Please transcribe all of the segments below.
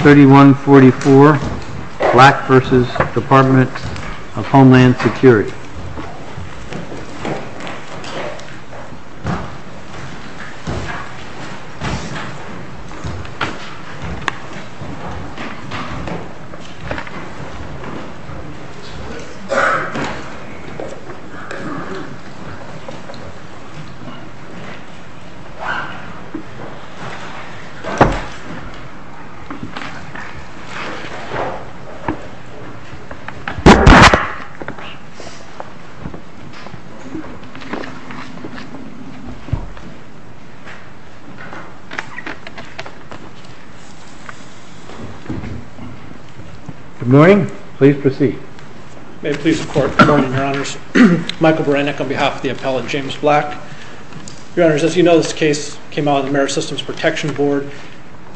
3144 Black v. Department of Homeland Security Good morning. Please proceed. May it please the Court. Good morning, Your Honors. Michael Berenik on behalf of the appellate James Black. Your Honors, as you know, this case came out on the Merit Systems Protection Board.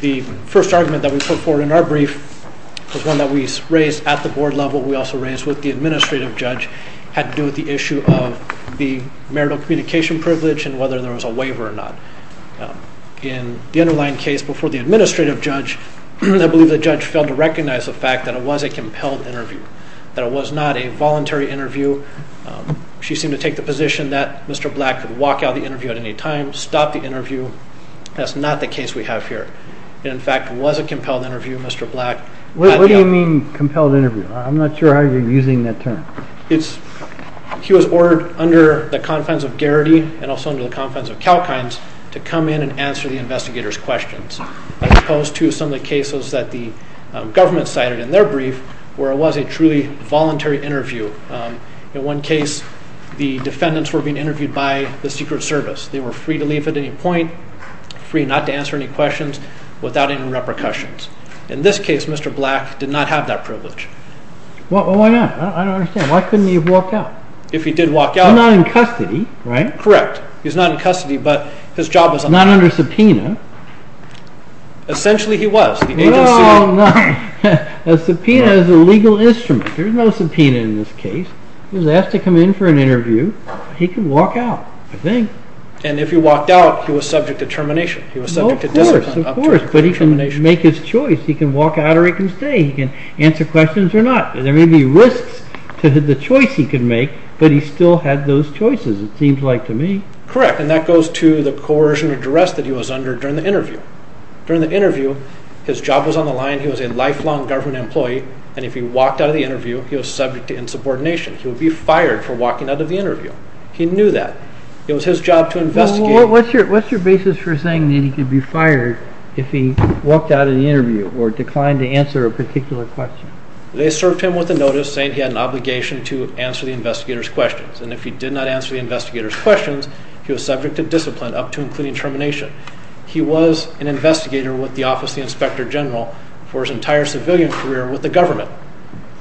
The first argument that we put forward in our brief was one that we raised at the board level. We also raised with the administrative judge had to do with the issue of the marital communication privilege and whether there was a waiver or not. In the underlying case before the administrative judge, I believe the judge failed to recognize the fact that it was a compelled interview, that it was not a voluntary interview. She seemed to take the position that Mr. Black could walk out of the interview at any time, stop the interview. That's not the case we have here. In fact, it was a compelled interview, Mr. Black. What do you mean compelled interview? I'm not sure how you're using that term. He was ordered under the confines of Garrity and also under the confines of Kalkines to come in and answer the investigators' questions, as opposed to some of the cases that the government cited in their brief, where it was a truly voluntary interview. In one case, the defendants were being interviewed by the Secret Service. They were free to leave at any point, free not to answer any questions, without any repercussions. In this case, Mr. Black did not have that privilege. Why not? I don't understand. Why couldn't he have walked out? If he did walk out... He's not in custody, right? Correct. He's not in custody, but his job was... Not under subpoena. Essentially, he was. The agency... A subpoena is a legal instrument. There's no subpoena in this case. He was asked to come in for an interview. He could walk out, I think. And if he walked out, he was subject to termination. He was subject to discipline. Of course, but he can make his choice. He can walk out or he can stay. He can answer questions or not. There may be risks to the choice he could make, but he still had those choices, it seems like to me. Correct, and that goes to the coercion address that he was under during the interview. During the interview, his job was on the line. He was a lifelong government employee, and if he walked out of the interview, he was subject to insubordination. He would be fired for walking out of the interview. He knew that. It was his job to investigate. What's your basis for saying that he could be fired if he walked out of the interview or declined to answer a particular question? They served him with a notice saying he had an obligation to answer the investigators' questions, and if he did not answer the investigators' questions, he was subject to discipline up to and including termination. He was an investigator with the Office of the Inspector General for his entire civilian career with the government.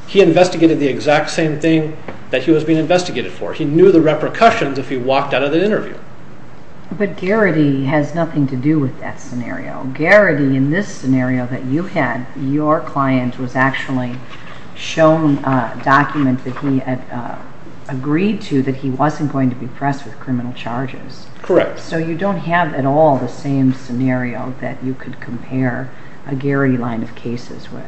He investigated the exact same thing that he was being investigated for. He knew the repercussions if he walked out of the interview. But Garrity has nothing to do with that scenario. Garrity, in this scenario that you had, your client was actually shown a document that he agreed to that he wasn't going to be pressed with criminal charges. Correct. So you don't have at all the same scenario that you could compare a Garrity line of cases with.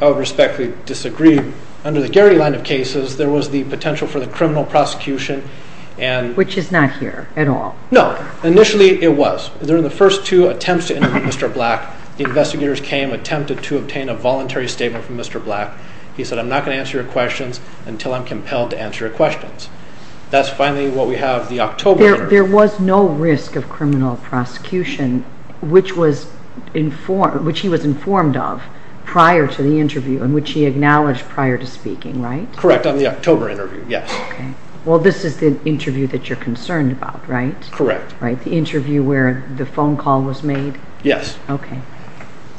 I would respectfully disagree. Under the Garrity line of cases, there was the potential for the criminal prosecution and... Which is not here at all. No. Initially, it was. During the first two attempts to interview Mr. Black, the investigators came, attempted to obtain a voluntary statement from Mr. Black. He said, I'm not going to answer your questions until I'm compelled to answer your questions. That's finally what we have the October interview. There was no risk of criminal prosecution, which he was informed of prior to the interview and which he acknowledged prior to speaking, right? Correct, on the October interview, yes. Okay. Well, this is the interview that you're concerned about, right? Correct. The interview where the phone call was made? Yes. Okay.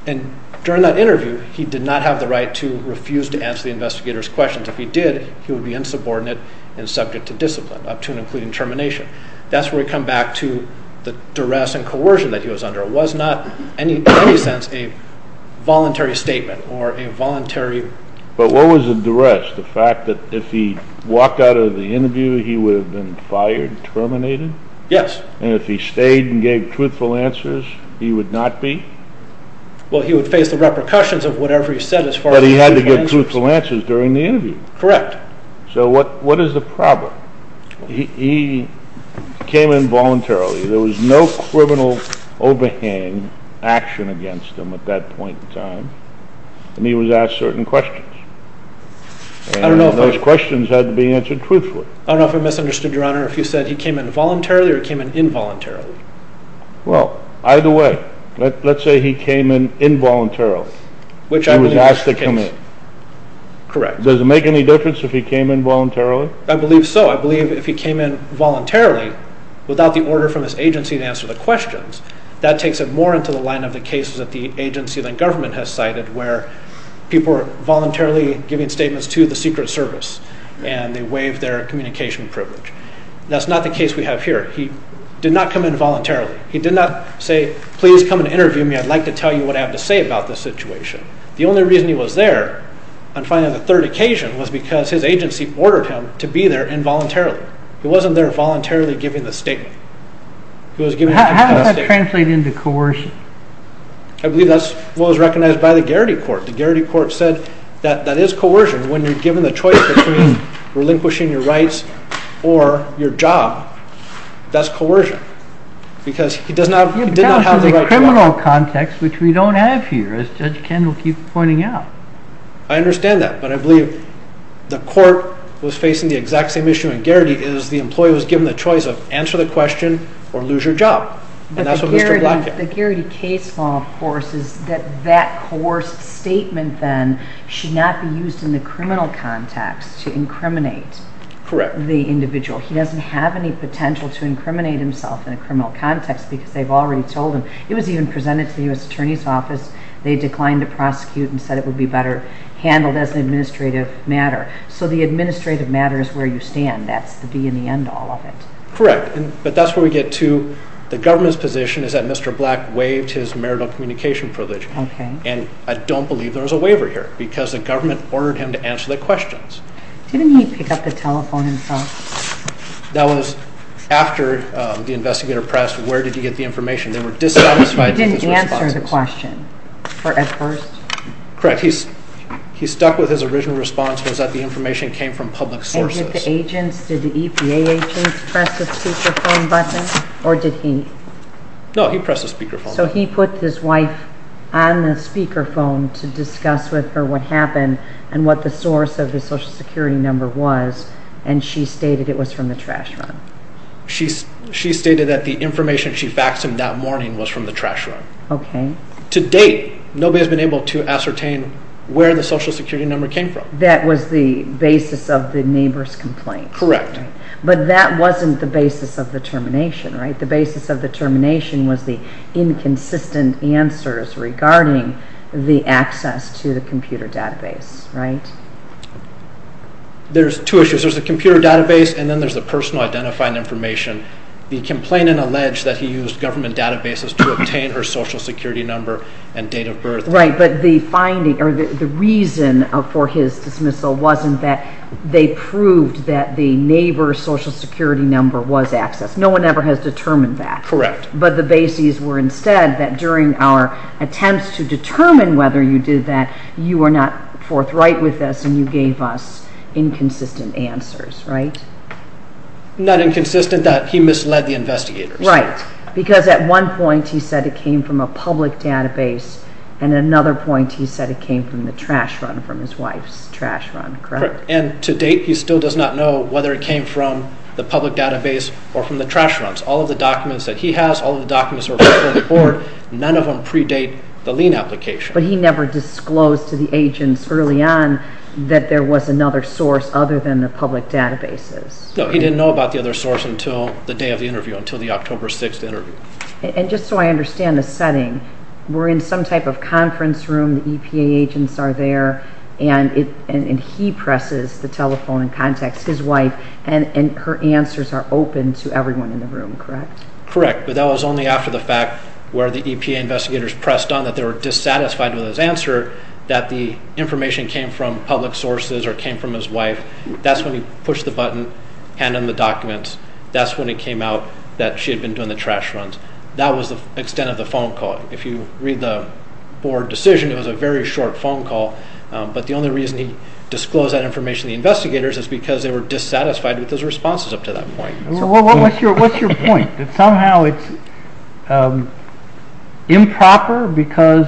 And during that interview, he did not have the right to refuse to answer the investigators' questions. If he did, he would be insubordinate and subject to discipline, up to and including termination. That's where we come back to the duress and coercion that he was under. It was not in any sense a voluntary statement or a voluntary... But what was the duress? The fact that if he walked out of the interview, he would have been fired, terminated? Yes. And if he stayed and gave truthful answers, he would not be? Well, he would face the repercussions of whatever he said as far as truthful answers. But he had to give truthful answers during the interview? Correct. So what is the problem? He came in voluntarily. There was no criminal overhang action against him at that point in time, and he was asked certain questions. And those questions had to be answered truthfully. I don't know if I misunderstood, Your Honor, if you said he came in voluntarily or he came in involuntarily. Well, either way, let's say he came in involuntarily. Which I believe... He was asked to come in. Correct. Does it make any difference if he came in voluntarily? I believe so. I believe if he came in voluntarily without the order from his agency to answer the questions, that takes it more into the line of the cases that the agency, then government, has cited where people are voluntarily giving statements to the Secret Service, and they waive their communication privilege. That's not the case we have here. He did not come in voluntarily. He did not say, please come and interview me. I'd like to tell you what I have to say about this situation. The only reason he was there on, finally, the third occasion was because his agency ordered him to be there involuntarily. He wasn't there voluntarily giving the statement. He was giving the statement. How does that translate into coercion? I believe that's what was recognized by the Garrity Court. The Garrity Court said that that is coercion when you're given the choice between relinquishing your rights or your job. That's coercion. Because he does not have the right to do that. You're talking about the criminal context, which we don't have here, as Judge Kendall keeps pointing out. I understand that, but I believe the court was facing the exact same issue in Garrity as the employee was given the choice of answer the question or lose your job. The Garrity case law, of course, is that that coerced statement then should not be used in the criminal context to incriminate the individual. He doesn't have any potential to incriminate himself in a criminal context because they've already told him. It was even presented to the U.S. Attorney's Office. They declined to prosecute and said it would be better handled as an administrative matter. So the administrative matter is where you stand. That's the be-in-the-end to all of it. Correct. But that's where we get to the government's position is that Mr. Black waived his marital communication privilege. Okay. And I don't believe there was a waiver here because the government ordered him to answer the questions. Didn't he pick up the telephone himself? That was after the investigator pressed where did he get the information. They were dissatisfied. He didn't answer the question at first? Correct. He stuck with his original response was that the information came from public sources. And did the agents, did the EPA agents press the speakerphone button or did he? No, he pressed the speakerphone. So he put his wife on the speakerphone to discuss with her what happened and what the source of his Social Security number was and she stated it was from the trash run. She stated that the information she faxed him that morning was from the trash run. Okay. To date, nobody has been able to the neighbor's complaint. Correct. But that wasn't the basis of the termination, right? The basis of the termination was the inconsistent answers regarding the access to the computer database, right? There's two issues. There's the computer database and then there's the personal identifying information. The complainant alleged that he used government databases to obtain her Social Security number and date of birth. Right, but the finding or the reason for his dismissal wasn't that they proved that the neighbor's Social Security number was accessed. No one ever has determined that. Correct. But the basis were instead that during our attempts to determine whether you did that, you were not forthright with this and you gave us inconsistent answers, right? Not inconsistent that he misled the investigators. Right, because at one point he said it came from a public database and at another point he said it came from the trash run, from his wife's trash run. Correct. And to date he still does not know whether it came from the public database or from the trash runs. All of the documents that he has, all of the documents that are before the court, none of them predate the lien application. But he never disclosed to the agents early on that there was another source other than the public databases. No, he didn't know about the other source until the day of the interview, until the October 6th interview. And just so I understand the conference room, the EPA agents are there and he presses the telephone and contacts his wife and her answers are open to everyone in the room, correct? Correct, but that was only after the fact where the EPA investigators pressed on that they were dissatisfied with his answer that the information came from public sources or came from his wife. That's when he pushed the button, handed them the documents. That's when it came out that she had been doing the trash runs. That was the extent of the phone call. If you read the court decision, it was a very short phone call. But the only reason he disclosed that information to the investigators is because they were dissatisfied with his responses up to that point. What's your point? That somehow it's improper because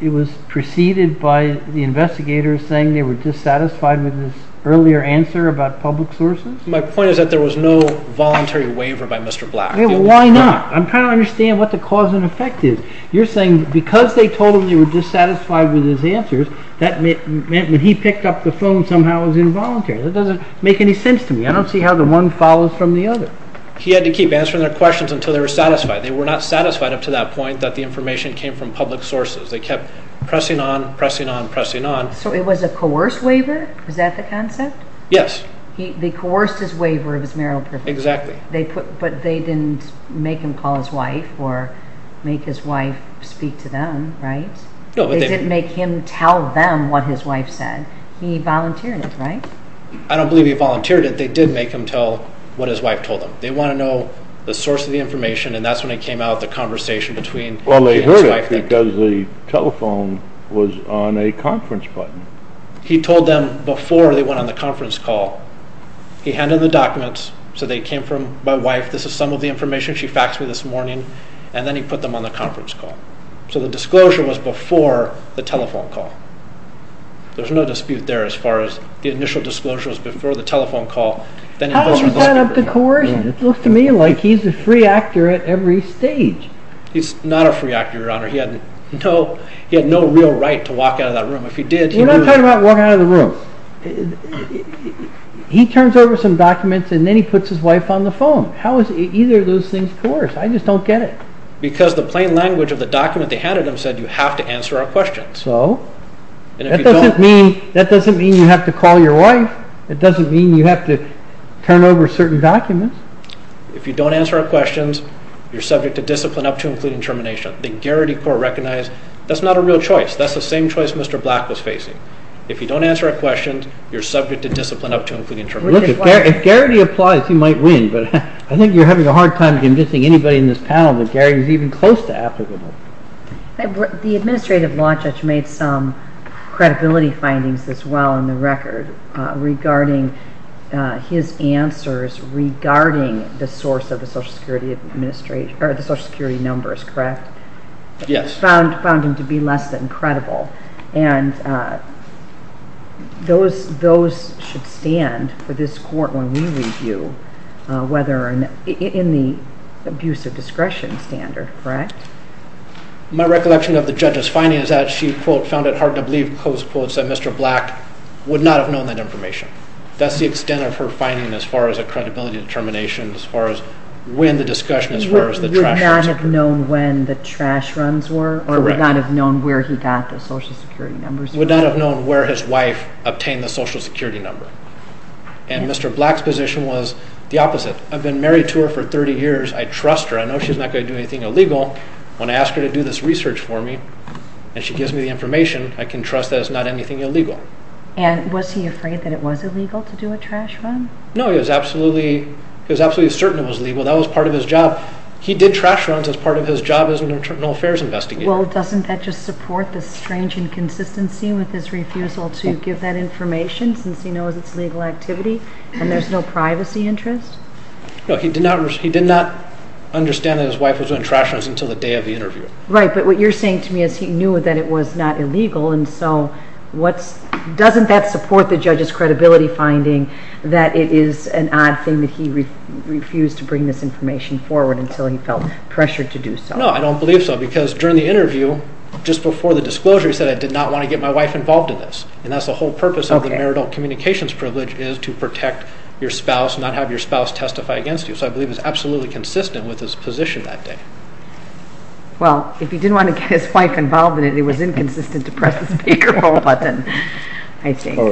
it was preceded by the investigators saying they were dissatisfied with his earlier answer about public sources? My point is that there was no voluntary waiver by Mr. Black. Why not? I'm trying to understand what the cause and effect is. You're saying because they told him they were dissatisfied with his answers, that meant when he picked up the phone somehow it was involuntary. That doesn't make any sense to me. I don't see how the one follows from the other. He had to keep answering their questions until they were satisfied. They were not satisfied up to that point that the information came from public sources. They kept pressing on, pressing on, pressing on. So it was a coerced waiver? Is that the concept? Yes. They coerced his wife or make his wife speak to them, right? No. They didn't make him tell them what his wife said. He volunteered it, right? I don't believe he volunteered it. They did make him tell what his wife told him. They want to know the source of the information and that's when it came out, the conversation between he and his wife. Well they heard it because the telephone was on a conference button. He told them before they went on the conference call. He handed them the documents, said they came from my wife. This is some of the information. She faxed me this morning and then he put them on the conference call. So the disclosure was before the telephone call. There's no dispute there as far as the initial disclosure was before the telephone call. How does that add up to coercion? It looks to me like he's a free actor at every stage. He's not a free actor, your honor. He had no real right to walk out of that room. If he did. We're not talking about walking out of the room. He turns over some documents and then he puts his wife on the phone. How is either of those things coerced? I just don't get it. Because the plain language of the document they handed him said you have to answer our questions. So? That doesn't mean you have to call your wife. It doesn't mean you have to turn over certain documents. If you don't answer our questions, you're subject to discipline up to including termination. The Garrity Court recognized that's not a real choice. That's the same choice Mr. Black was facing. If you don't answer our questions, you're subject to discipline up to including termination. If Garrity applies, he might win, but I think you're having a hard time convincing anybody in this panel that Garrity is even close to applicable. The administrative law judge made some credibility findings as well in the record regarding his answers regarding the source of the social security numbers, correct? Yes. Found him to be less than credible. And those should stand for this court when we review whether in the abuse of discretion standard, correct? My recollection of the judge's findings is that she found it hard to believe that Mr. Black would not have known that information. That's the extent of her finding as far as a credibility determination as far as when the discussion as far as the trash runs were or would not have known where he got the social security numbers. Would not have known where his wife obtained the social security number. And Mr. Black's position was the opposite. I've been married to her for 30 years. I trust her. I know she's not going to do anything illegal. When I ask her to do this research for me and she gives me the information, I can trust that it's not anything illegal. And was he afraid that it was illegal to do a trash run? No, he was absolutely, he was absolutely certain it was he did trash runs as part of his job as an internal affairs investigator. Well, doesn't that just support the strange inconsistency with his refusal to give that information since he knows it's legal activity and there's no privacy interest? No, he did not understand that his wife was doing trash runs until the day of the interview. Right, but what you're saying to me is he knew that it was not illegal and so what's, doesn't that support the judge's until he felt pressured to do so? No, I don't believe so because during the interview, just before the disclosure, he said, I did not want to get my wife involved in this. And that's the whole purpose of the marital communications privilege is to protect your spouse, not have your spouse testify against you. So I believe it's absolutely consistent with his position that day. Well, if he didn't want to get his wife involved in it, it was inconsistent to press the speaker button. I see. Do you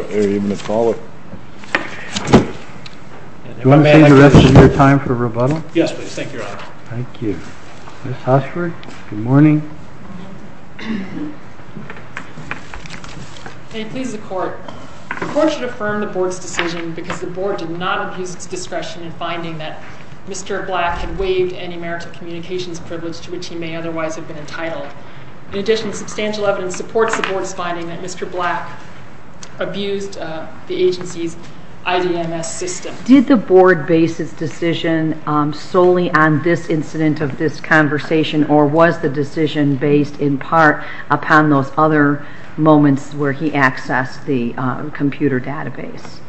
want to take the rest of your time for rebuttal? Yes, please. Thank you, Your Honor. Thank you. Ms. Hoshford, good morning. May it please the court. The court should affirm the board's decision because the board did not abuse its discretion in finding that Mr. Black had waived any marital communications privilege to which he may otherwise have been entitled. In addition, substantial evidence supports the board's finding that Mr. Black abused the agency's IDMS system. Did the board base its decision solely on this incident of this conversation or was the decision based in part upon those other moments where he accessed the computer database?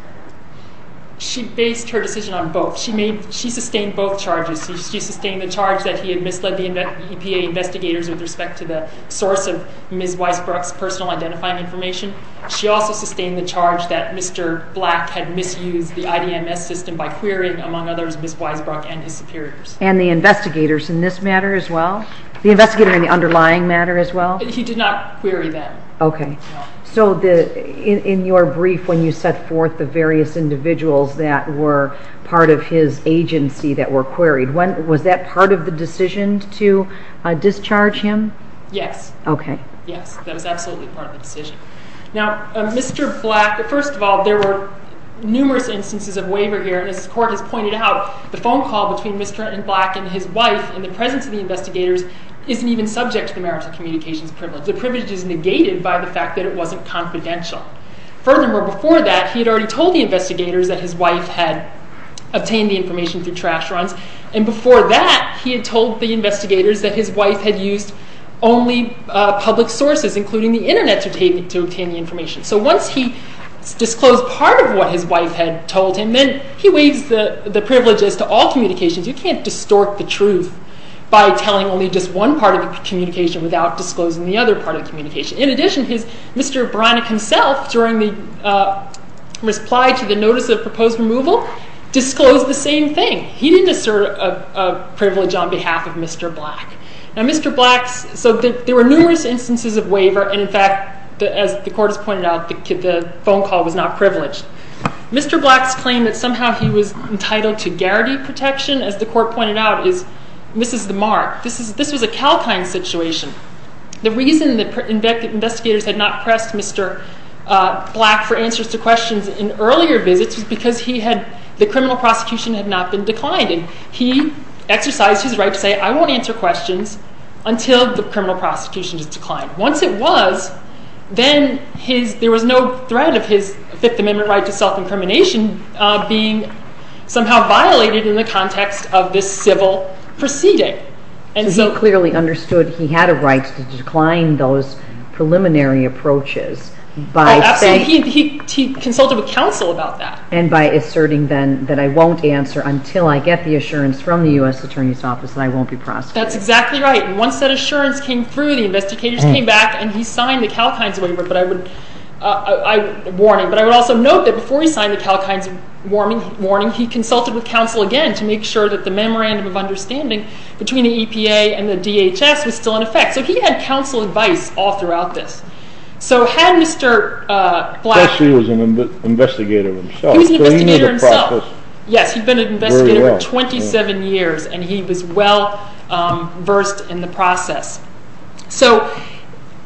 She based her decision on both. She sustained both charges. She sustained the charge that he had misled the EPA investigators with respect to the source of Ms. Weisbrook's personal identifying information. She also sustained the charge that Mr. Black had misused the IDMS system by querying, among others, Ms. Weisbrook and his superiors. And the investigators in this matter as well? The investigator in the underlying matter as well? He did not query them. Okay. So in your brief when you set forth the various individuals that were part of his agency that were queried, was that part of the decision to discharge him? Yes. Okay. Yes, that was the case. The court has pointed out the phone call between Mr. and Black and his wife in the presence of the investigators isn't even subject to the merits of communications privilege. The privilege is negated by the fact that it wasn't confidential. Furthermore, before that, he had already told the investigators that his wife had obtained the information through trash runs. And before that, he had told the investigators that his wife had used only public sources, including the internet, to obtain the information. So once he disclosed part of what his wife had told him, then he waives the privilege as to all communications. You can't distort the truth by telling only just one part of the communication without disclosing the other part of the communication. In addition, Mr. O'Brien himself, during the reply to the notice of proposed removal, disclosed the same thing. He didn't assert a privilege on behalf of Mr. Black. Now Mr. Black's, so there were numerous instances of waiver, and in fact, as the court has pointed out, the phone call was not privileged. Mr. Black's claim that somehow he was entitled to guarantee protection, as the court pointed out, misses the mark. This was a Kalkine situation. The reason that investigators had not pressed Mr. Black for answers to questions in earlier visits was because he had, the criminal prosecution had not been declined, and he exercised his right to say, I won't answer questions until the criminal prosecution is declined. Once it was, then his, there was no threat of his Fifth Amendment right to self-incrimination being somehow violated in the context of this civil proceeding, and so. He clearly understood he had a right to decline those preliminary approaches by saying. He consulted with counsel about that. And by asserting then that I won't answer until I get the assurance from the U.S. Attorney's Office that I won't be prosecuted. That's exactly right. Once that assurance came through, the investigators came back and he signed the Kalkine's waiver, but I would, warning, but I would also note that before he signed the Kalkine's warning, he consulted with counsel again to make sure that the memorandum of understanding between the EPA and the DHS was still in effect. So he had counsel advice all throughout this. So had Mr. Black. He was an investigator himself. He was an investigator himself. Yes, he'd been an investigator for 27 years, and he was well versed in the so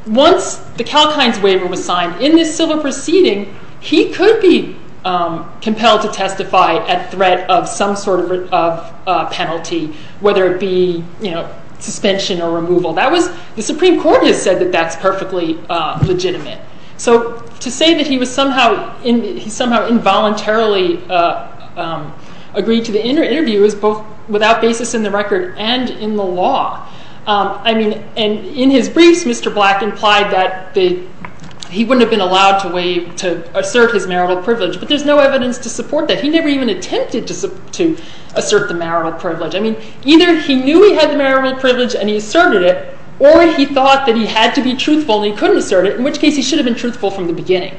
once the Kalkine's waiver was signed in this civil proceeding, he could be compelled to testify at threat of some sort of penalty, whether it be, you know, suspension or removal. That was, the Supreme Court has said that that's perfectly legitimate. So to say that he was somehow in, he somehow involuntarily agreed to the interview is both without basis in the record and in the law. I mean, and in his briefs, Mr. Black implied that the, he wouldn't have been allowed to waive, to assert his marital privilege, but there's no evidence to support that. He never even attempted to assert the marital privilege. I mean, either he knew he had the marital privilege and he asserted it, or he thought that he had to be truthful and he couldn't assert it, in which case he should have been truthful from the beginning.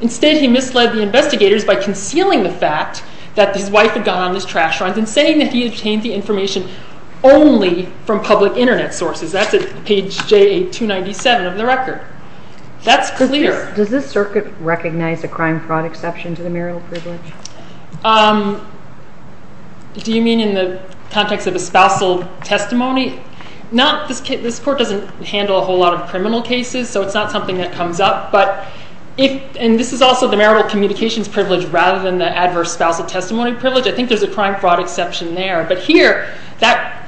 Instead, he misled the investigators by concealing the fact that his wife had gone on this trash runs and saying that he obtained the information only from public internet sources. That's at page JA-297 of the record. That's clear. Does this circuit recognize a crime fraud exception to the marital privilege? Do you mean in the context of a spousal testimony? Not, this court doesn't handle a whole lot of criminal cases, so it's not something that comes up, but if, and this is also the marital communications privilege rather than the adverse spousal testimony privilege, I think there's a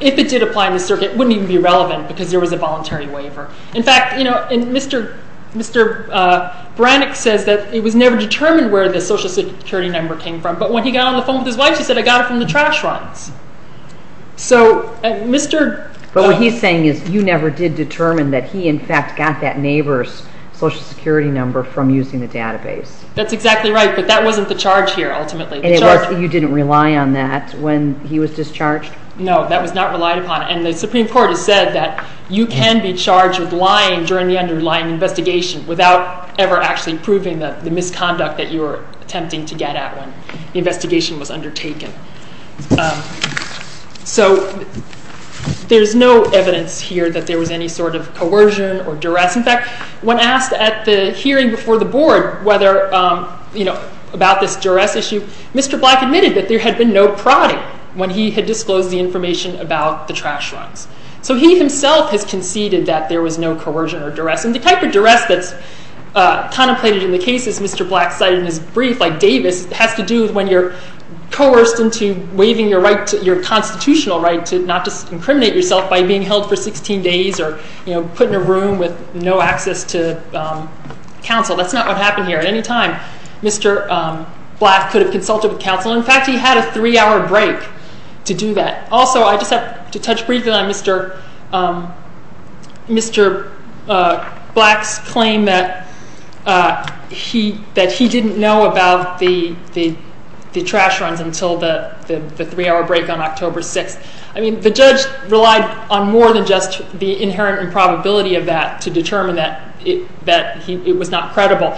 if it did apply in the circuit, it wouldn't even be relevant because there was a voluntary waiver. In fact, you know, and Mr. Brannick says that it was never determined where the social security number came from, but when he got on the phone with his wife, she said, I got it from the trash runs. So Mr. But what he's saying is you never did determine that he in fact got that neighbor's social security number from using the database. That's exactly right, but that wasn't the charge here ultimately. You didn't rely on that when he was discharged? No, that was not relied upon, and the Supreme Court has said that you can be charged with lying during the underlying investigation without ever actually proving that the misconduct that you were attempting to get at when the investigation was undertaken. So there's no evidence here that there was any sort of coercion or duress. In fact, when asked at the hearing before the board whether, you know, about this duress issue, Mr. Black admitted that there had been no prodding when he had disclosed the information about the trash runs. So he himself has conceded that there was no coercion or duress, and the type of duress that's contemplated in the cases Mr. Black cited in his brief like Davis has to do with when you're coerced into waiving your constitutional right to not just incriminate yourself by being held for 16 days or, you know, put in a room with no access to counsel. That's not what happened here. At any time, Mr. Black could have consulted with counsel. In fact, he had a three-hour break to do that. Also, I just have to touch briefly on Mr. Black's claim that he didn't know about the trash runs until the three-hour break on October 6th. I mean, the judge relied on more than just the inherent improbability of that to determine that it was not credible.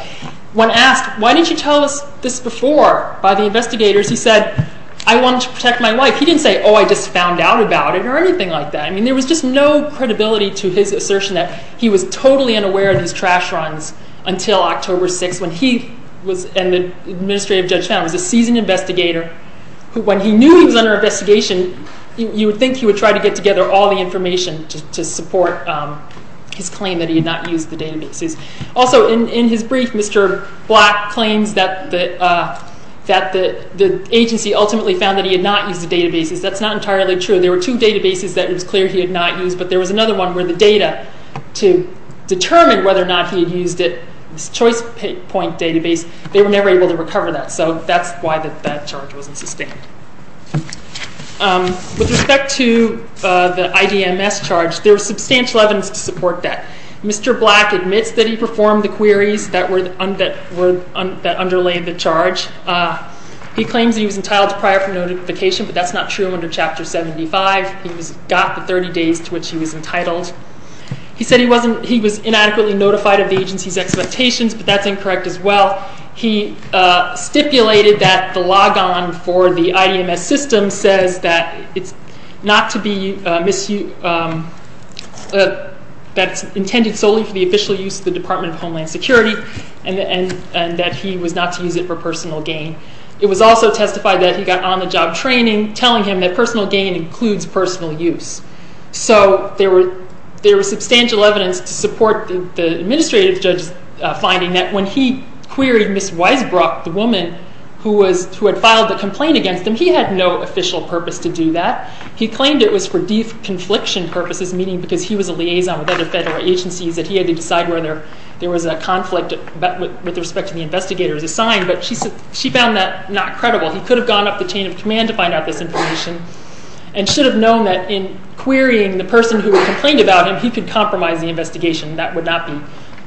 When asked, why didn't you tell us this before by the investigators, he said, I wanted to protect my wife. He didn't say, oh, I just found out about it or anything like that. I mean, there was just no credibility to his assertion that he was totally unaware of these trash runs until October 6th when he was, and the administrative judge found, was a seasoned investigator who, when he knew he was under investigation, you would think he would try to information to support his claim that he had not used the databases. Also, in his brief, Mr. Black claims that the agency ultimately found that he had not used the databases. That's not entirely true. There were two databases that it was clear he had not used, but there was another one where the data to determine whether or not he had used it, this choice point database, they were never able to recover that. So that's why that charge wasn't sustained. With respect to the IDMS charge, there was substantial evidence to support that. Mr. Black admits that he performed the queries that were, that underlay the charge. He claims he was entitled to prior notification, but that's not true under Chapter 75. He's got the 30 days to which he was entitled. He said he wasn't, he was inadequately notified of the agency's expectations, but that's incorrect as well. He stipulated that the logon for the IDMS system says that it's not to be misused, that it's intended solely for the official use of the Department of Homeland Security, and that he was not to use it for personal gain. It was also testified that he got on-the-job training telling him that personal gain includes personal use. So there was substantial evidence to support the administrative judge's finding that when he queried Ms. Weisbrock, the woman who had filed the complaint against him, he had no official purpose to do that. He claimed it was for de-confliction purposes, meaning because he was a liaison with other federal agencies that he had to decide whether there was a conflict with respect to the investigators assigned, but she found that not credible. He could have gone up the chain of command to find out this information and should have known that in querying the person who had complained about him, he could compromise the investigation. That would not be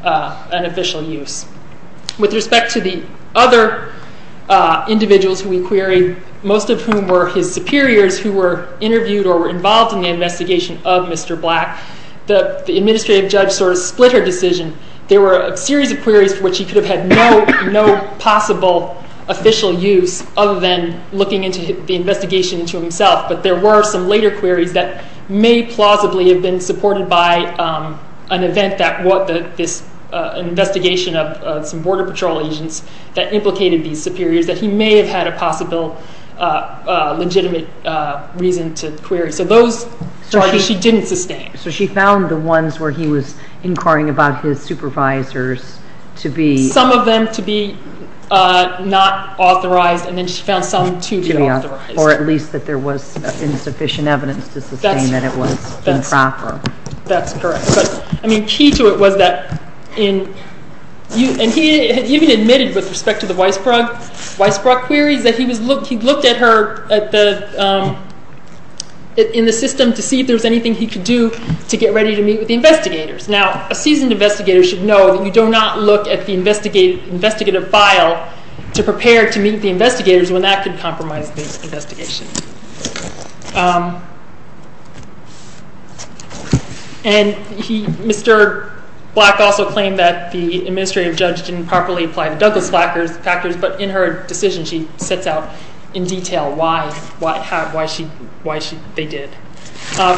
an official use. With respect to the other individuals who we queried, most of whom were his superiors who were interviewed or were involved in the investigation of Mr. Black, the administrative judge sort of split her decision. There were a series of queries for which he could have had no possible official use other than looking into the investigation into himself, but there were some later queries that may plausibly have been supported by an event that this investigation of some border patrol agents that implicated these superiors that he may have had a possible legitimate reason to query. So those charges she didn't sustain. So she found the ones where he was inquiring about his supervisors to be... Some of them to be not authorized, and then she found some to be authorized. Or at least that there was insufficient evidence to sustain that it was improper. That's correct. I mean, key to it was that in... And he even admitted with respect to the Weisbrock queries that he'd looked at her in the system to see if there was anything he could do to get ready to meet with the investigators. Now, a seasoned investigator should know that you do not look at the investigative file to prepare to meet the investigators when that could compromise the investigation. And Mr. Black also claimed that the administrative judge didn't properly apply the Douglas-Fackers factors, but in her decision she sets out in detail why they did.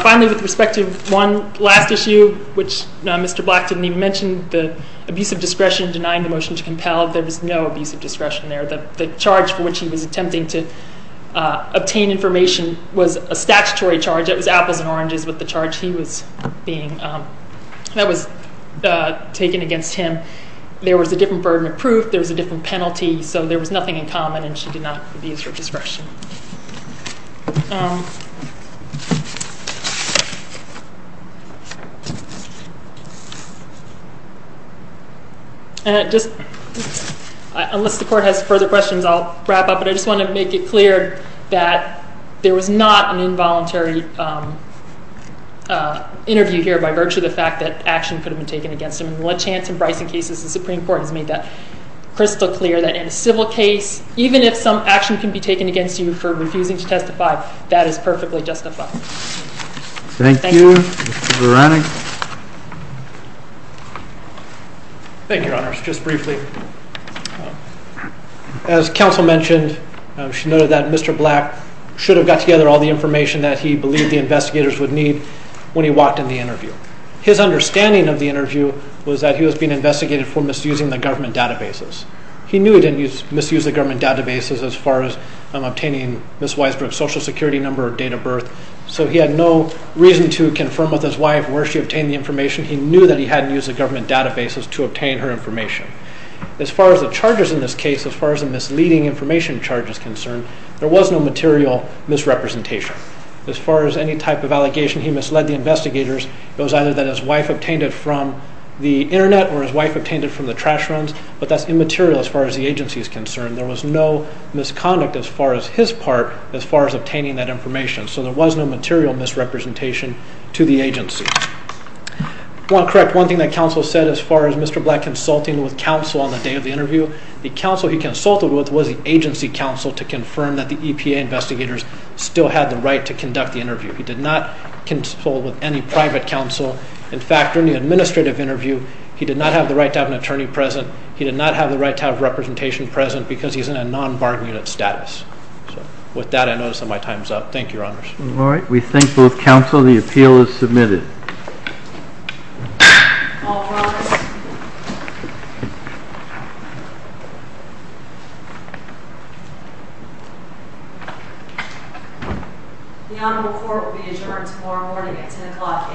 Finally, with respect to one last issue, which Mr. Black didn't even mention, the abusive discretion denying the motion to compel, there was no abusive discretion there. The charge for which he was obtained information was a statutory charge. It was apples and oranges with the charge he was being... That was taken against him. There was a different burden of proof. There was a different penalty. So there was nothing in common, and she did not abuse her discretion. And I just... Unless the court has further questions, I'll wrap up, but I just want to make it clear that there was not an involuntary interview here by virtue of the fact that action could have been taken against him. And the Lachance and Bryson cases, the Supreme Court has made that crystal clear that in a civil case, even if some action can be taken against you for refusing to testify, that is perfectly justified. Thank you. Mr. Veronique. Thank you, Your Honors. Just briefly, as counsel mentioned, she noted that Mr. Black should have got together all the information that he believed the investigators would need when he walked in the interview. His understanding of the interview was that he was being investigated for misusing the government databases. He knew he didn't misuse the government databases as far as obtaining Ms. Weisbrook's social security number or date of birth, so he had no reason to confirm with his wife where she obtained the information. He knew that he hadn't used the government databases to obtain her information. As far as the charges in this case, as far as the misleading information charge is concerned, there was no material misrepresentation. As far as any type of allegation, he misled the investigators. It was either that his wife obtained it from the internet or his wife obtained it from the trash runs, but that's immaterial as far as the agency is concerned. There was no misconduct as far as his part, as far as obtaining that information. One thing that counsel said as far as Mr. Black consulting with counsel on the day of the interview, the counsel he consulted with was the agency counsel to confirm that the EPA investigators still had the right to conduct the interview. He did not consult with any private counsel. In fact, during the administrative interview, he did not have the right to have an attorney present. He did not have the right to have representation present because he's in a non-bargaining status. With that, I notice that my time is up. Thank you, Your Honors. All right. We thank both counsel. The appeal is submitted. The honorable court will be adjourned tomorrow morning at 10 o'clock a.m.